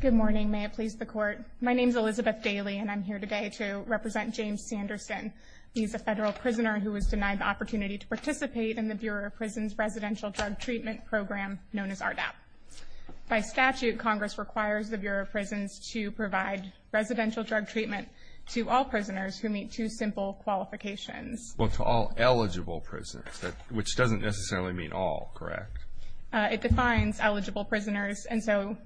Good morning, may it please the court. My name is Elizabeth Daly and I'm here today to represent James Sanderson. He's a federal prisoner who was denied the opportunity to participate in the Bureau of Prisons residential drug treatment program known as RDAP. By statute, Congress requires the Bureau of Prisons to provide residential drug treatment to all prisoners who meet two simple qualifications. Well, to all eligible prisoners, which doesn't necessarily mean all, correct? It defines eligible prisoners, and so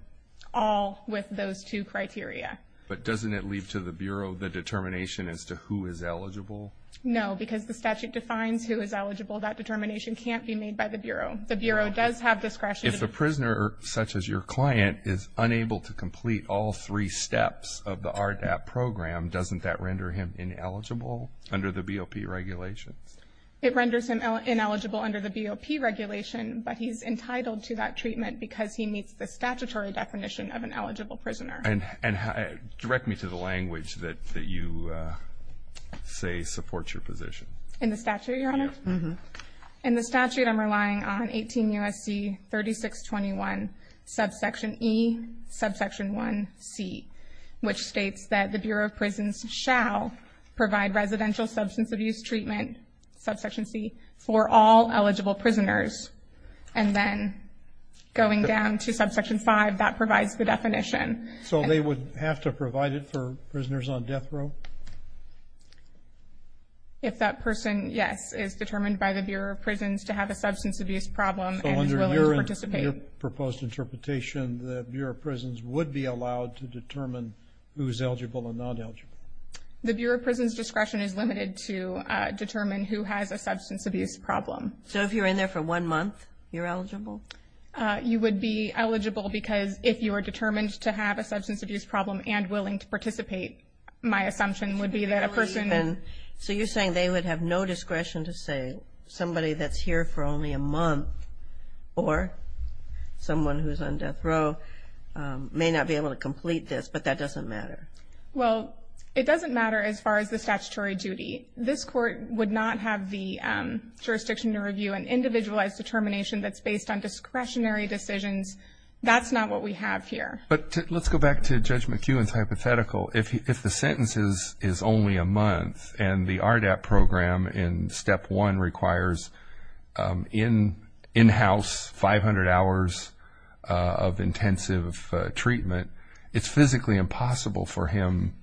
all with those two criteria. But doesn't it leave to the Bureau the determination as to who is eligible? No, because the statute defines who is eligible. That determination can't be made by the Bureau. The Bureau does have discretion. If the prisoner, such as your client, is unable to complete all three steps of the RDAP program, doesn't that render him ineligible under the BOP regulations? It renders him ineligible under the BOP regulation, but he's entitled to that treatment because he meets the statutory definition of an eligible prisoner. And direct me to the language that you say supports your position. In the statute, Your Honor? Yes. Subsection E, subsection 1C, which states that the Bureau of Prisons shall provide residential substance abuse treatment, subsection C, for all eligible prisoners. And then going down to subsection 5, that provides the definition. So they would have to provide it for prisoners on death row? If that person, yes, is determined by the Bureau of Prisons to have a substance abuse problem and is willing to participate. So under your proposed interpretation, the Bureau of Prisons would be allowed to determine who is eligible and not eligible? The Bureau of Prisons' discretion is limited to determine who has a substance abuse problem. So if you're in there for one month, you're eligible? You would be eligible because if you are determined to have a substance abuse problem and willing to participate, my assumption would be that a person – So you're saying they would have no discretion to say somebody that's here for only a month or someone who's on death row may not be able to complete this, but that doesn't matter? Well, it doesn't matter as far as the statutory duty. This court would not have the jurisdiction to review an individualized determination that's based on discretionary decisions. That's not what we have here. But let's go back to Judge McEwen's hypothetical. If the sentence is only a month and the RDAP program in Step 1 requires in-house 500 hours of intensive treatment, it's physically impossible for him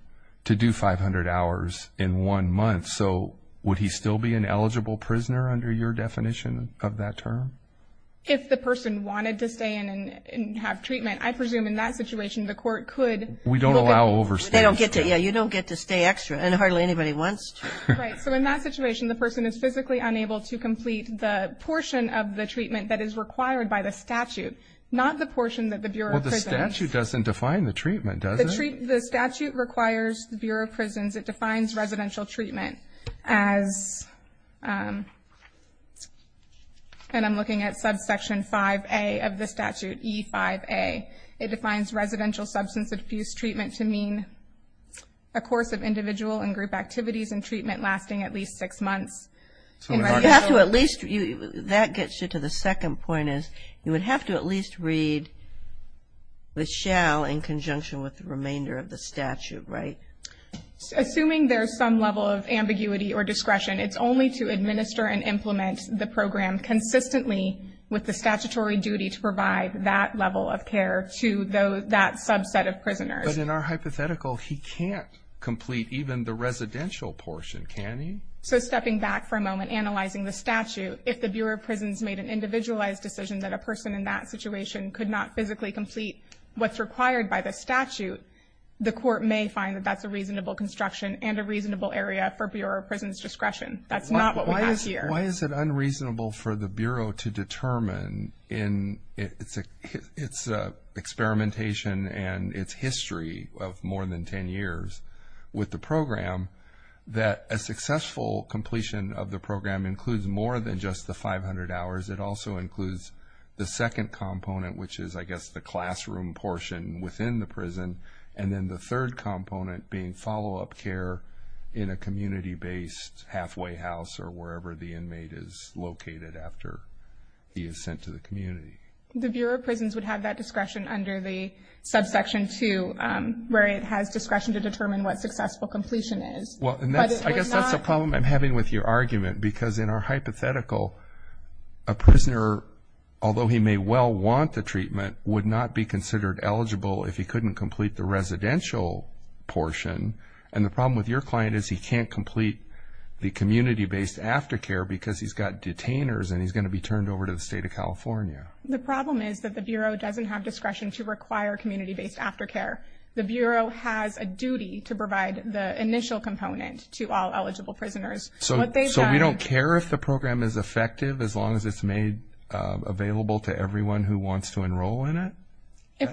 to do 500 hours in one month. So would he still be an eligible prisoner under your definition of that term? If the person wanted to stay in and have treatment, I presume in that situation the court could look at who was eligible? Yeah, you don't get to stay extra, and hardly anybody wants to. Right. So in that situation, the person is physically unable to complete the portion of the treatment that is required by the statute, not the portion that the Bureau of Prisons – Well, the statute doesn't define the treatment, does it? The statute requires the Bureau of Prisons – it defines residential treatment as – and I'm looking at subsection 5A of the statute, E5A. It defines residential substance abuse treatment to mean a course of individual and group activities and treatment lasting at least six months. That gets you to the second point, is you would have to at least read the shall in conjunction with the remainder of the statute, right? Assuming there's some level of ambiguity or discretion, it's only to administer and implement the program consistently with the statutory duty to provide that level of care to that subset of prisoners. But in our hypothetical, he can't complete even the residential portion, can he? So stepping back for a moment, analyzing the statute, if the Bureau of Prisons made an individualized decision that a person in that situation could not physically complete what's required by the statute, the court may find that that's a reasonable construction and a reasonable area for Bureau of Prisons discretion. That's not what we have here. Why is it unreasonable for the Bureau to determine in its experimentation and its history of more than 10 years with the program that a successful completion of the program includes more than just the 500 hours? It also includes the second component, which is, I guess, the classroom portion within the prison, and then the third component being follow-up care in a community-based halfway house or wherever the inmate is located after he is sent to the community. The Bureau of Prisons would have that discretion under the subsection 2, where it has discretion to determine what successful completion is. I guess that's a problem I'm having with your argument, because in our hypothetical, a prisoner, although he may well want the treatment, would not be considered eligible if he couldn't complete the residential portion. And the problem with your client is he can't complete the community-based aftercare because he's got detainers and he's going to be turned over to the state of California. The problem is that the Bureau doesn't have discretion to require community-based aftercare. The Bureau has a duty to provide the initial component to all eligible prisoners. So we don't care if the program is effective as long as it's made available to everyone who wants to enroll in it?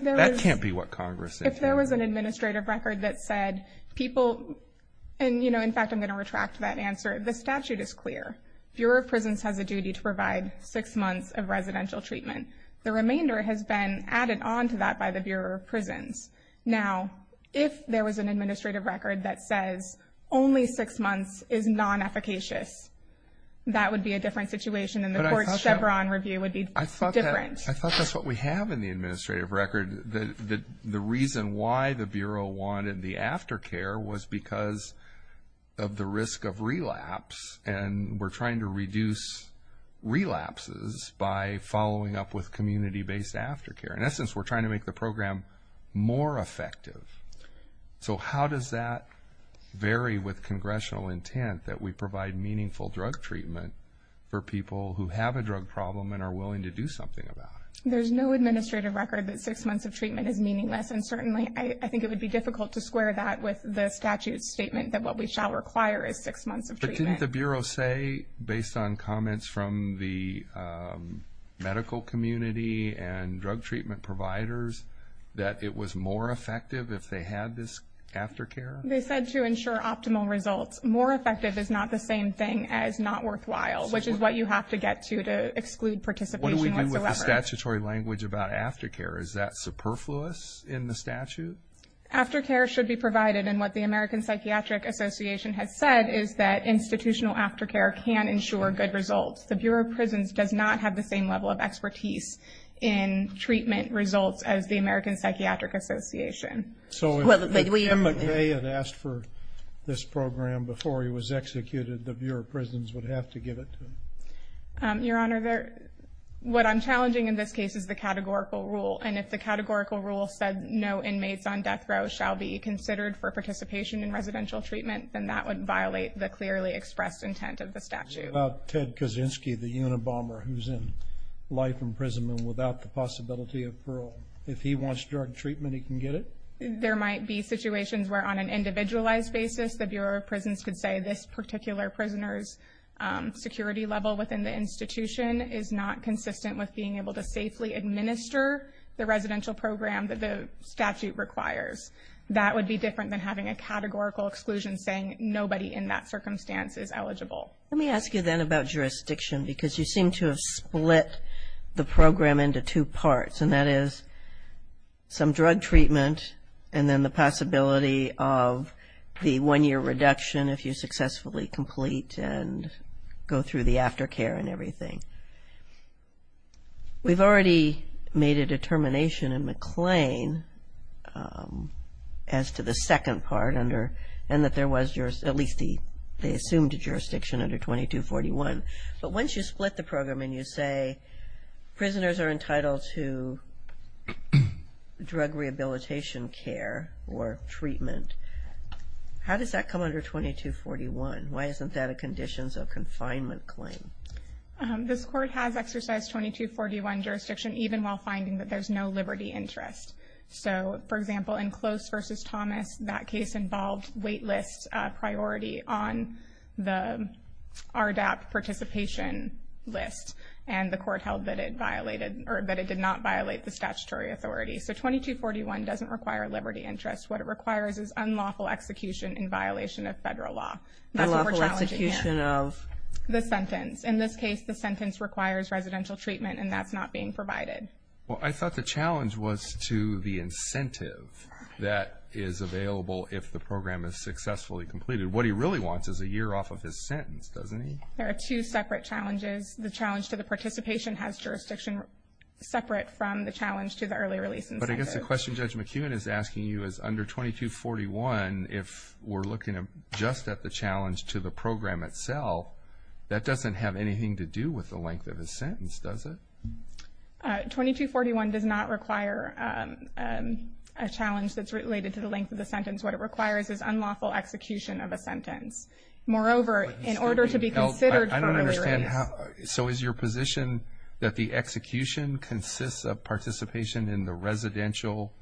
That can't be what Congress said. If there was an administrative record that said people – and, you know, in fact, I'm going to retract that answer. The statute is clear. Bureau of Prisons has a duty to provide six months of residential treatment. The remainder has been added on to that by the Bureau of Prisons. Now, if there was an administrative record that says only six months is non-efficacious, that would be a different situation and the court's Chevron review would be different. I thought that's what we have in the administrative record. The reason why the Bureau wanted the aftercare was because of the risk of relapse, and we're trying to reduce relapses by following up with community-based aftercare. In essence, we're trying to make the program more effective. So how does that vary with congressional intent that we provide meaningful drug treatment for people who have a drug problem and are willing to do something about it? There's no administrative record that six months of treatment is meaningless, and certainly I think it would be difficult to square that with the statute's statement that what we shall require is six months of treatment. Didn't the Bureau say, based on comments from the medical community and drug treatment providers, that it was more effective if they had this aftercare? They said to ensure optimal results. More effective is not the same thing as not worthwhile, which is what you have to get to to exclude participation whatsoever. What do we do with the statutory language about aftercare? Is that superfluous in the statute? Aftercare should be provided, and what the American Psychiatric Association has said is that institutional aftercare can ensure good results. The Bureau of Prisons does not have the same level of expertise in treatment results as the American Psychiatric Association. But if they had asked for this program before he was executed, the Bureau of Prisons would have to give it to them. Your Honor, what I'm challenging in this case is the categorical rule, and if the categorical rule said no inmates on death row shall be considered for participation in residential treatment, then that would violate the clearly expressed intent of the statute. What about Ted Kaczynski, the Unabomber, who's in life imprisonment without the possibility of parole? If he wants drug treatment, he can get it? There might be situations where, on an individualized basis, the Bureau of Prisons could say this particular prisoner's security level within the institution is not consistent with being able to safely administer the residential program that the statute requires. That would be different than having a categorical exclusion saying nobody in that circumstance is eligible. Let me ask you then about jurisdiction, because you seem to have split the program into two parts, and that is some drug treatment and then the possibility of the one-year reduction if you successfully complete and go through the aftercare and everything. We've already made a determination in McLean as to the second part and that there was at least the assumed jurisdiction under 2241, but once you split the program and you say prisoners are entitled to drug rehabilitation care or treatment, how does that come under 2241? Why isn't that a conditions of confinement claim? This court has exercised 2241 jurisdiction, even while finding that there's no liberty interest. So, for example, in Close v. Thomas, that case involved waitlist priority on the RDAP participation list, and the court held that it violated or that it did not violate the statutory authority. So 2241 doesn't require liberty interest. What it requires is unlawful execution in violation of federal law. Unlawful execution of? The sentence. In this case, the sentence requires residential treatment, and that's not being provided. Well, I thought the challenge was to the incentive that is available if the program is successfully completed. What he really wants is a year off of his sentence, doesn't he? There are two separate challenges. The challenge to the participation has jurisdiction separate from the challenge to the early release incentive. But I guess the question Judge McKeown is asking you is under 2241, if we're looking just at the challenge to the program itself, that doesn't have anything to do with the length of his sentence, does it? 2241 does not require a challenge that's related to the length of the sentence. What it requires is unlawful execution of a sentence. Moreover, in order to be considered for early release. So is your position that the execution consists of participation in the residential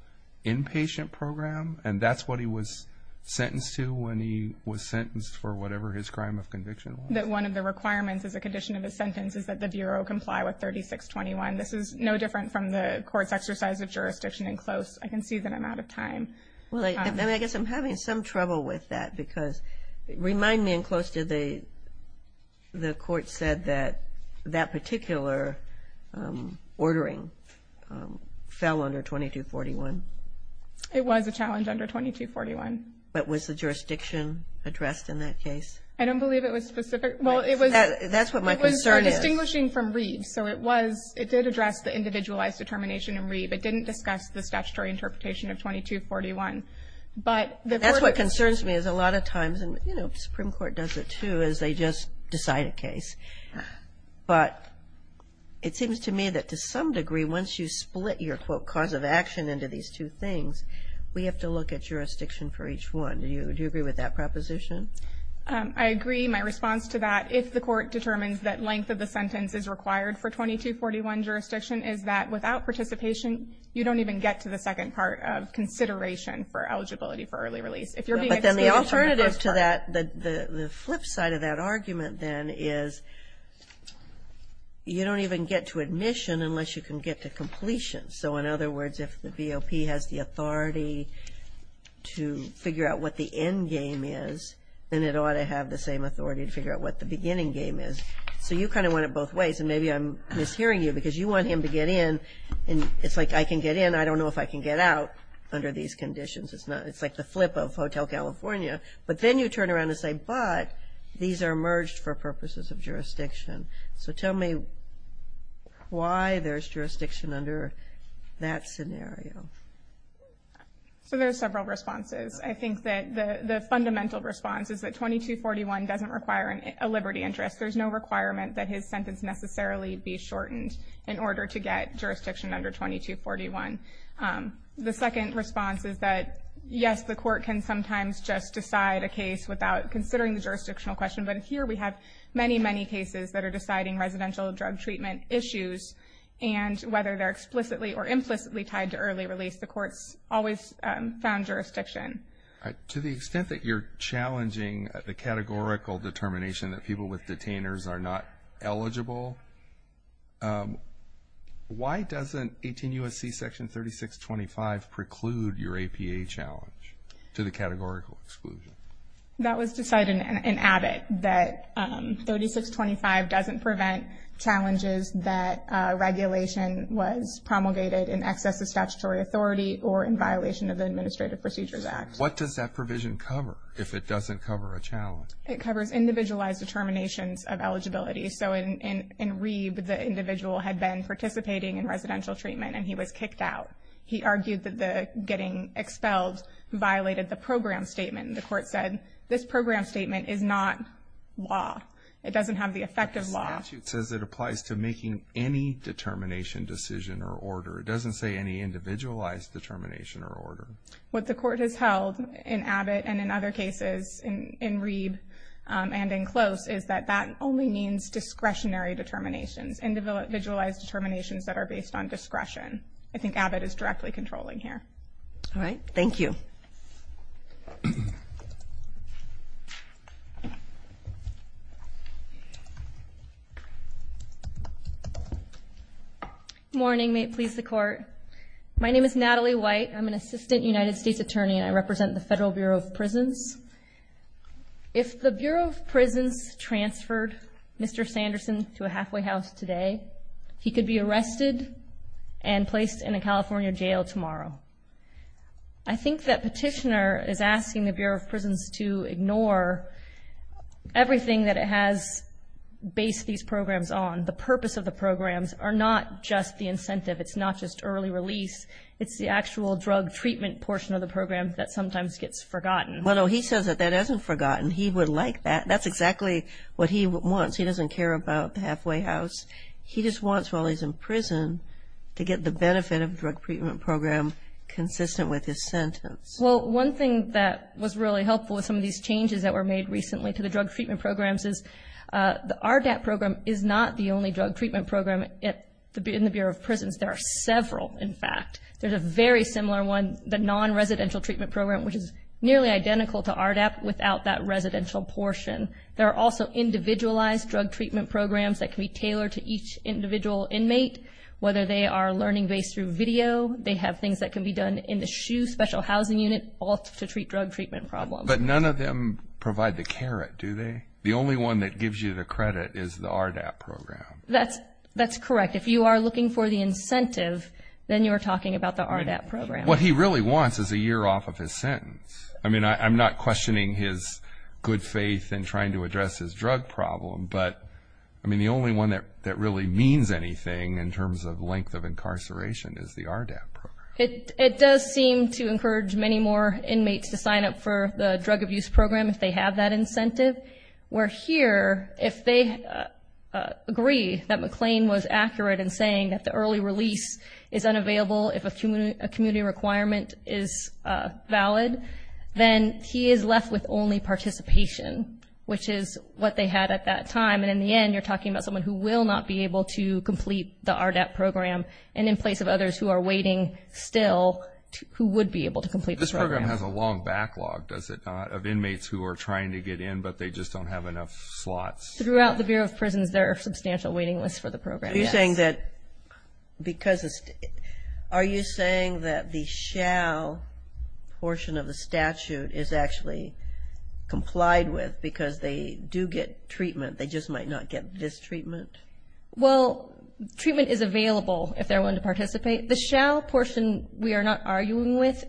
inpatient program, and that's what he was sentenced to when he was sentenced for whatever his crime of conviction was? That one of the requirements as a condition of his sentence is that the Bureau comply with 3621. This is no different from the court's exercise of jurisdiction in Close. I can see that I'm out of time. Well, I guess I'm having some trouble with that, because remind me in Close did the court said that that particular ordering fell under 2241? It was a challenge under 2241. But was the jurisdiction addressed in that case? I don't believe it was specific. That's what my concern is. It was distinguishing from Reeve. So it did address the individualized determination in Reeve. It didn't discuss the statutory interpretation of 2241. That's what concerns me is a lot of times, and the Supreme Court does it too, is they just decide a case. But it seems to me that to some degree, once you split your, quote, cause of action into these two things, we have to look at jurisdiction for each one. Do you agree with that proposition? I agree. My response to that, if the court determines that length of the sentence is required for 2241 jurisdiction, is that without participation, you don't even get to the second part of consideration for eligibility for early release. But then the alternative to that, the flip side of that argument, then, is you don't even get to admission unless you can get to completion. So, in other words, if the VOP has the authority to figure out what the end game is, then it ought to have the same authority to figure out what the beginning game is. So you kind of want it both ways. And maybe I'm mishearing you because you want him to get in, and it's like, I can get in, I don't know if I can get out under these conditions. It's like the flip of Hotel California. But then you turn around and say, but these are merged for purposes of jurisdiction. So tell me why there's jurisdiction under that scenario. So there's several responses. I think that the fundamental response is that 2241 doesn't require a liberty interest. There's no requirement that his sentence necessarily be shortened in order to get jurisdiction under 2241. The second response is that, yes, the court can sometimes just decide a case without considering the jurisdictional question, but here we have many, many cases that are deciding residential drug treatment issues, and whether they're explicitly or implicitly tied to early release, the court's always found jurisdiction. To the extent that you're challenging the categorical determination that people with detainers are not eligible, why doesn't 18 U.S.C. Section 3625 preclude your APA challenge to the categorical exclusion? That was decided in Abbott that 3625 doesn't prevent challenges that regulation was promulgated in excess of statutory authority or in violation of the Administrative Procedures Act. What does that provision cover if it doesn't cover a challenge? It covers individualized determinations of eligibility. So in Reeb, the individual had been participating in residential treatment and he was kicked out. He argued that getting expelled violated the program statement. The court said, this program statement is not law. It doesn't have the effect of law. The statute says it applies to making any determination, decision, or order. It doesn't say any individualized determination or order. What the court has held in Abbott and in other cases, in Reeb and in Close, is that that only means discretionary determinations, individualized determinations that are based on discretion. I think Abbott is directly controlling here. All right, thank you. Good morning. May it please the Court. My name is Natalie White. I'm an Assistant United States Attorney, and I represent the Federal Bureau of Prisons. If the Bureau of Prisons transferred Mr. Sanderson to a halfway house today, he could be arrested and placed in a California jail tomorrow. I think that Petitioner is asking the Bureau of Prisons to ignore everything that it has based these programs on. The purpose of the programs are not just the incentive. It's not just early release. It's the actual drug treatment portion of the program that sometimes gets forgotten. Well, no, he says that that isn't forgotten. He would like that. That's exactly what he wants. He doesn't care about the halfway house. He just wants, while he's in prison, to get the benefit of the drug treatment program consistent with his sentence. Well, one thing that was really helpful with some of these changes that were made recently to the drug treatment programs is the RDAP program is not the only drug treatment program in the Bureau of Prisons. There are several, in fact. There's a very similar one, the non-residential treatment program, which is nearly identical to RDAP without that residential portion. There are also individualized drug treatment programs that can be tailored to each individual inmate, whether they are learning based through video, they have things that can be done in the SHU special housing unit, all to treat drug treatment problems. But none of them provide the carrot, do they? The only one that gives you the credit is the RDAP program. That's correct. If you are looking for the incentive, then you're talking about the RDAP program. What he really wants is a year off of his sentence. I mean, I'm not questioning his good faith in trying to address his drug problem, but, I mean, the only one that really means anything in terms of length of incarceration is the RDAP program. It does seem to encourage many more inmates to sign up for the drug abuse program if they have that incentive, where here, if they agree that McLean was accurate in saying that the early release is valid, then he is left with only participation, which is what they had at that time. And in the end, you're talking about someone who will not be able to complete the RDAP program, and in place of others who are waiting still, who would be able to complete the program. This program has a long backlog, does it not, of inmates who are trying to get in, but they just don't have enough slots. there are substantial waiting lists for the program, yes. Are you saying that, because it's, are you saying that the shall portion of the statute is actually complied with because they do get treatment, they just might not get this treatment? Well, treatment is available if they're willing to participate. The shall portion we are not arguing with,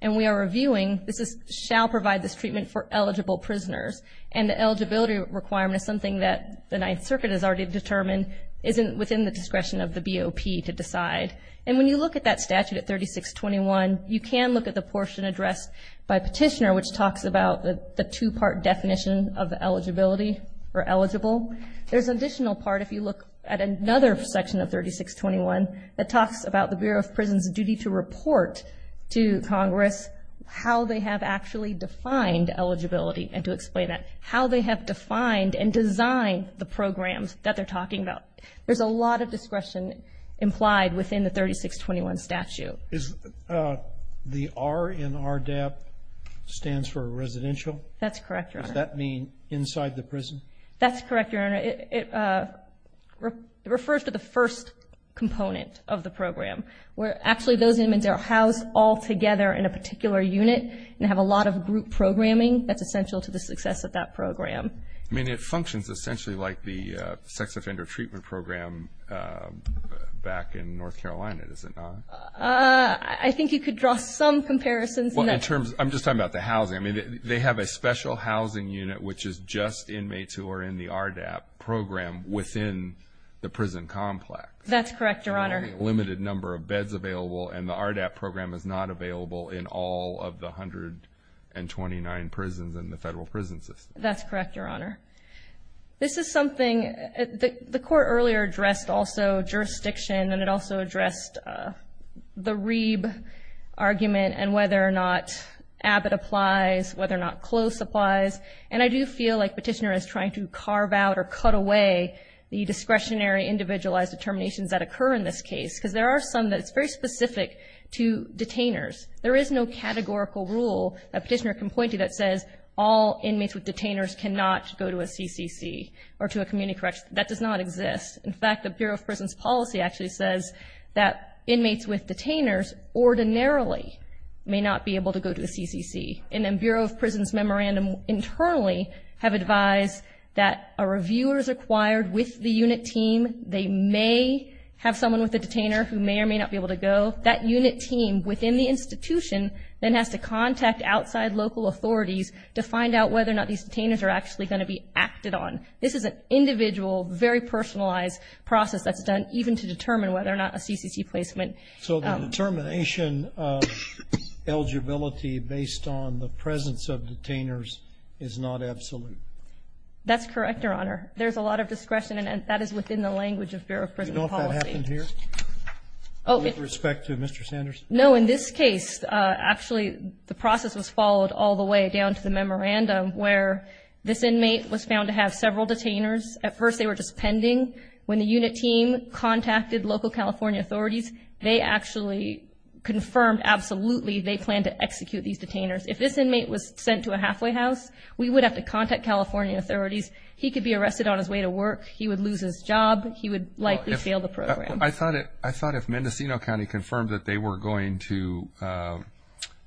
and we are reviewing, this is shall provide this treatment for eligible prisoners, and the eligibility requirement is something that the Ninth Circuit has already determined isn't within the discretion of the BOP to decide. And when you look at that statute at 3621, you can look at the portion addressed by Petitioner, which talks about the two-part definition of eligibility, or eligible. There's an additional part, if you look at another section of 3621, that talks about the Bureau of Prison's duty to report to Congress how they have actually defined eligibility, and to explain that, how they have defined and designed the programs that they're talking about. There's a lot of discretion implied within the 3621 statute. Is the R in RDAP stands for residential? That's correct, Your Honor. Does that mean inside the prison? That's correct, Your Honor. It refers to the first component of the program, where actually those inmates are housed all together in a particular unit and have a lot of group programming. That's essential to the success of that program. I mean, it functions essentially like the Sex Offender Treatment Program back in North Carolina, does it not? I think you could draw some comparisons. I'm just talking about the housing. I mean, they have a special housing unit, which is just inmates who are in the RDAP program within the prison complex. That's correct, Your Honor. There are only a limited number of beds available, and the RDAP program is not available in all of the 129 prisons in the federal prison system. That's correct, Your Honor. This is something the Court earlier addressed also, jurisdiction, and it also addressed the Reeb argument and whether or not Abbott applies, whether or not Close applies. And I do feel like Petitioner is trying to carve out or cut away the discretionary individualized determinations that occur in this case, because there are some that it's very specific to detainers. There is no categorical rule that Petitioner can point to that says all inmates with detainers cannot go to a CCC or to a community correction. That does not exist. In fact, the Bureau of Prisons Policy actually says that inmates with detainers ordinarily may not be able to go to a CCC. And then Bureau of Prisons Memorandum internally have advised that a reviewer is required with the unit team. They may have someone with a detainer who may or may not be able to go. That unit team within the institution then has to contact outside local authorities to find out whether or not these detainers are actually going to be acted on. This is an individual, very personalized process that's done even to determine whether or not a CCC placement. So the determination of eligibility based on the presence of detainers is not absolute. That's correct, Your Honor. There's a lot of discretion, and that is within the language of Bureau of Prisons Policy. Do you know if that happened here with respect to Mr. Sanders? No. In this case, actually the process was followed all the way down to the memorandum where this inmate was found to have several detainers. At first they were just pending. When the unit team contacted local California authorities, they actually confirmed absolutely they planned to execute these detainers. If this inmate was sent to a halfway house, we would have to contact California authorities. He could be arrested on his way to work. He would lose his job. He would likely fail the program. I thought if Mendocino County confirmed that they were going to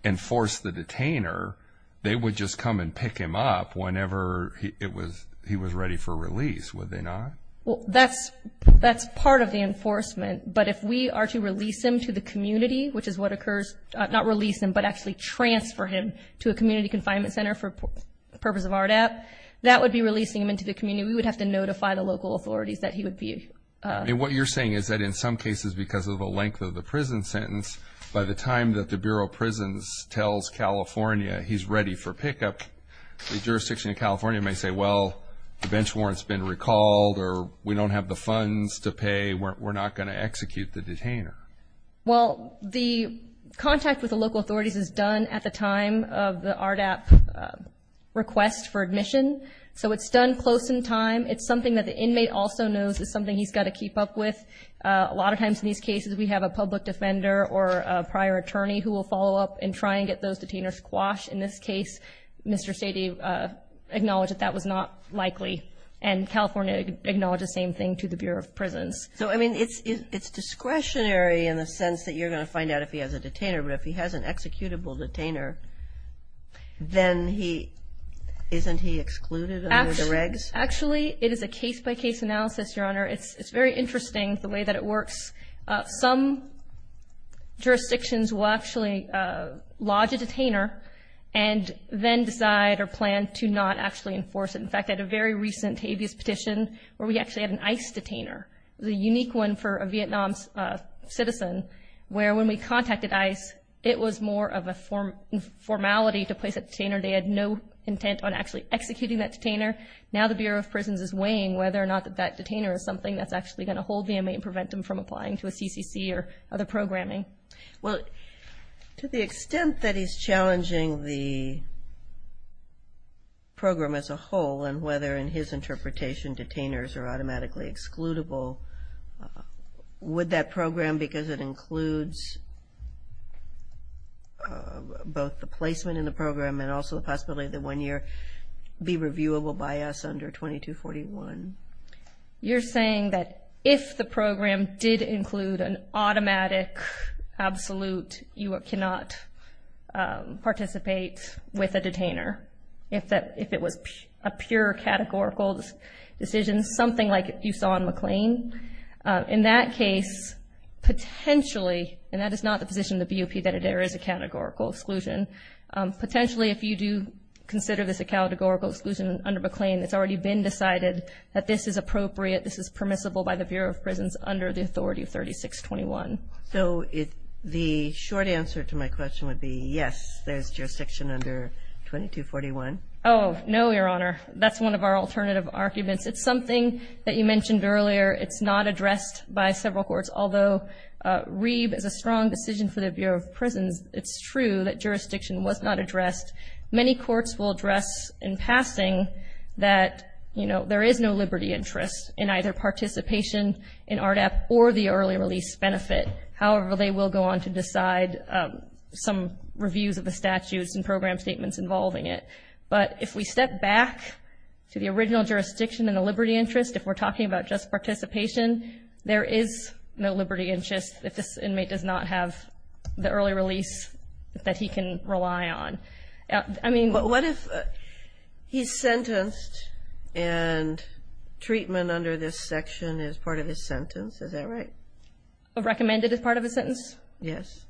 enforce the detainer, they would just come and pick him up whenever he was ready for release, would they not? Well, that's part of the enforcement. But if we are to release him to the community, which is what occurs, not release him, but actually transfer him to a community confinement center for the purpose of RDAP, that would be releasing him into the community. We would have to notify the local authorities that he would be. And what you're saying is that in some cases because of the length of the prison sentence, by the time that the Bureau of Prisons tells California he's ready for pickup, the jurisdiction of California may say, well, the bench warrant's been recalled or we don't have the funds to pay, we're not going to execute the detainer. Well, the contact with the local authorities is done at the time of the RDAP request for admission. So it's done close in time. It's something that the inmate also knows is something he's got to keep up with. A lot of times in these cases we have a public defender or a prior attorney who will follow up and try and get those detainers quashed. In this case, Mr. Sady acknowledged that that was not likely, and California acknowledged the same thing to the Bureau of Prisons. So, I mean, it's discretionary in the sense that you're going to find out if he has a detainer, but if he has an executable detainer, then he isn't he excluded under the regs? Actually, it is a case-by-case analysis, Your Honor. It's very interesting the way that it works. Some jurisdictions will actually lodge a detainer and then decide or plan to not actually enforce it. In fact, at a very recent habeas petition where we actually had an ICE detainer, the unique one for a Vietnam citizen where when we contacted ICE, it was more of a formality to place a detainer. They had no intent on actually executing that detainer. Now the Bureau of Prisons is weighing whether or not that detainer is something that's actually going to hold the inmate and prevent him from applying to a CCC or other programming. Well, to the extent that he's challenging the program as a whole and whether in his interpretation detainers are automatically excludable, would that program, because it includes both the placement in the program and also the possibility that one year be reviewable by us under 2241? You're saying that if the program did include an automatic absolute, you cannot participate with a detainer if it was a pure categorical decision, something like you saw in McLean? In that case, potentially, and that is not the position of the BOP that there is a categorical exclusion, potentially if you do consider this a categorical exclusion under McLean, it's already been decided that this is appropriate, this is permissible by the Bureau of Prisons under the authority of 3621. So the short answer to my question would be, yes, there's jurisdiction under 2241. Oh, no, Your Honor. That's one of our alternative arguments. It's something that you mentioned earlier. It's not addressed by several courts. Although Reeb is a strong decision for the Bureau of Prisons, it's true that jurisdiction was not addressed. Many courts will address in passing that, you know, there is no liberty interest in either participation in ARDAP or the early release benefit. However, they will go on to decide some reviews of the statutes and program statements involving it. But if we step back to the original jurisdiction and the liberty interest, if we're talking about just participation, there is no liberty interest if this inmate does not have the early release that he can rely on. What if he's sentenced and treatment under this section is part of his sentence? Is that right? Recommended as part of his sentence? Yes.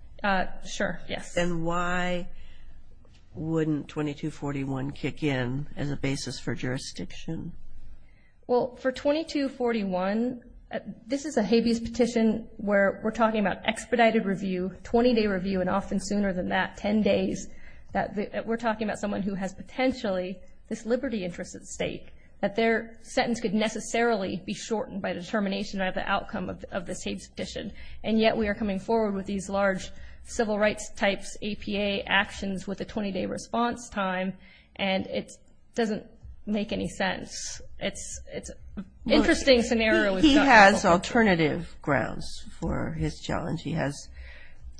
Sure, yes. Then why wouldn't 2241 kick in as a basis for jurisdiction? Well, for 2241, this is a habeas petition where we're talking about expedited review, 20-day review, and often sooner than that, 10 days. We're talking about someone who has potentially this liberty interest at stake, that their sentence could necessarily be shortened by determination of the outcome of this habeas petition. And yet we are coming forward with these large civil rights types, APA actions, with a 20-day response time, and it doesn't make any sense. It's an interesting scenario. He has alternative grounds for his challenge. He has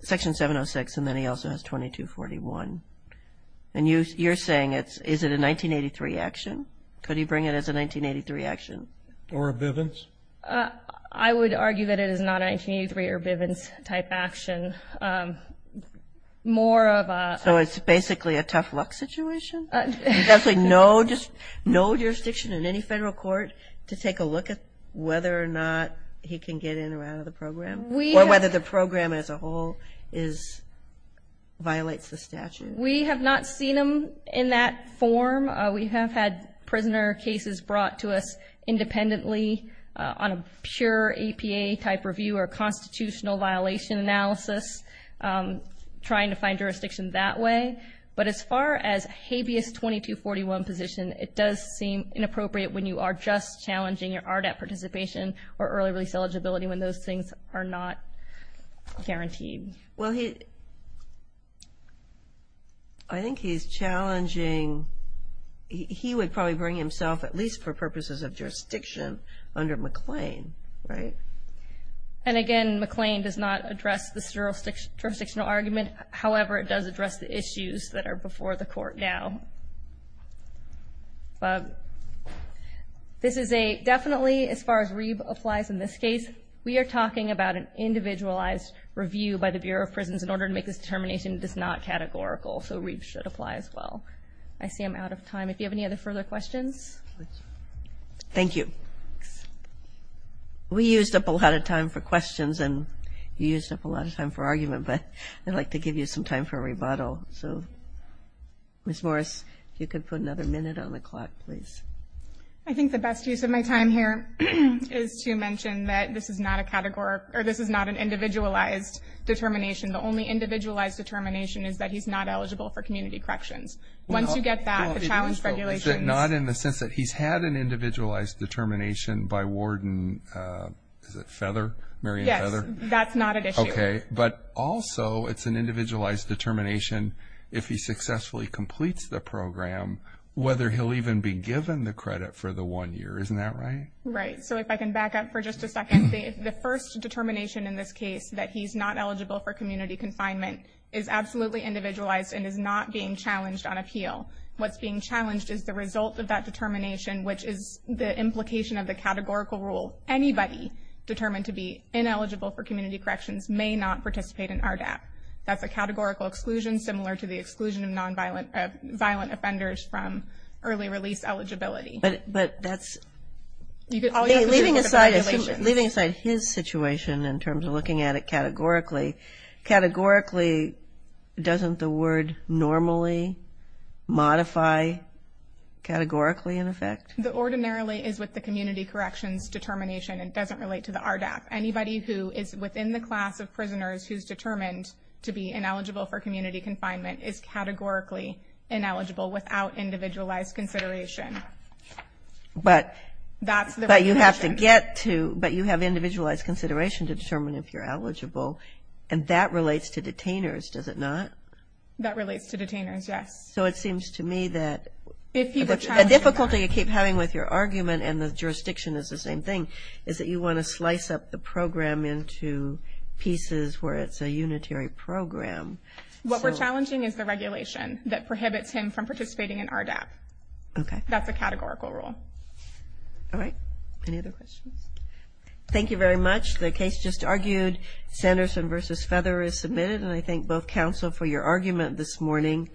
Section 706, and then he also has 2241. And you're saying it's, is it a 1983 action? Could he bring it as a 1983 action? Or a Bivens? I would argue that it is not a 1983 or Bivens-type action. More of a ---- So it's basically a tough luck situation? There's actually no jurisdiction in any Federal court to take a look at whether or not he can get in or out of the program? Or whether the program as a whole violates the statute? We have not seen him in that form. We have had prisoner cases brought to us independently on a pure APA-type review or constitutional violation analysis, trying to find jurisdiction that way. But as far as a habeas 2241 position, it does seem inappropriate when you are just challenging your RDAP participation or early release eligibility when those things are not guaranteed. Well, he ---- I think he's challenging, he would probably bring himself, at least for purposes of jurisdiction, under McLean, right? And again, McLean does not address the jurisdictional argument. However, it does address the issues that are before the Court now. But this is a ---- Definitely, as far as Reeb applies in this case, we are talking about an individualized review by the Bureau of Prisons in order to make this determination that is not categorical. So Reeb should apply as well. I see I'm out of time. If you have any other further questions? Thank you. We used up a lot of time for questions, and you used up a lot of time for argument. But I'd like to give you some time for a rebuttal. Ms. Morris, if you could put another minute on the clock, please. I think the best use of my time here is to mention that this is not a categorical or this is not an individualized determination. The only individualized determination is that he's not eligible for community corrections. Once you get that, the challenge regulations ---- Is it not in the sense that he's had an individualized determination by Warden Feather? Yes, that's not at issue. Okay. But also it's an individualized determination if he successfully completes the program, whether he'll even be given the credit for the one year. Isn't that right? Right. So if I can back up for just a second, the first determination in this case, that he's not eligible for community confinement, is absolutely individualized and is not being challenged on appeal. What's being challenged is the result of that determination, which is the implication of the categorical rule. Anybody determined to be ineligible for community corrections may not participate in RDAP. That's a categorical exclusion similar to the exclusion of violent offenders from early release eligibility. But that's ---- Leaving aside his situation in terms of looking at it categorically, categorically doesn't the word normally modify categorically in effect? The ordinarily is with the community corrections determination and doesn't relate to the RDAP. Anybody who is within the class of prisoners who's determined to be ineligible for community confinement is categorically ineligible without individualized consideration. But you have to get to ---- But you have individualized consideration to determine if you're eligible, and that relates to detainers, does it not? That relates to detainers, yes. So it seems to me that ---- I'm just playing with your argument, and the jurisdiction is the same thing, is that you want to slice up the program into pieces where it's a unitary program. What we're challenging is the regulation that prohibits him from participating in RDAP. Okay. That's a categorical rule. All right. Any other questions? Thank you very much. The case just argued, Sanderson v. Feather, is submitted, and I thank both counsel for your argument this morning.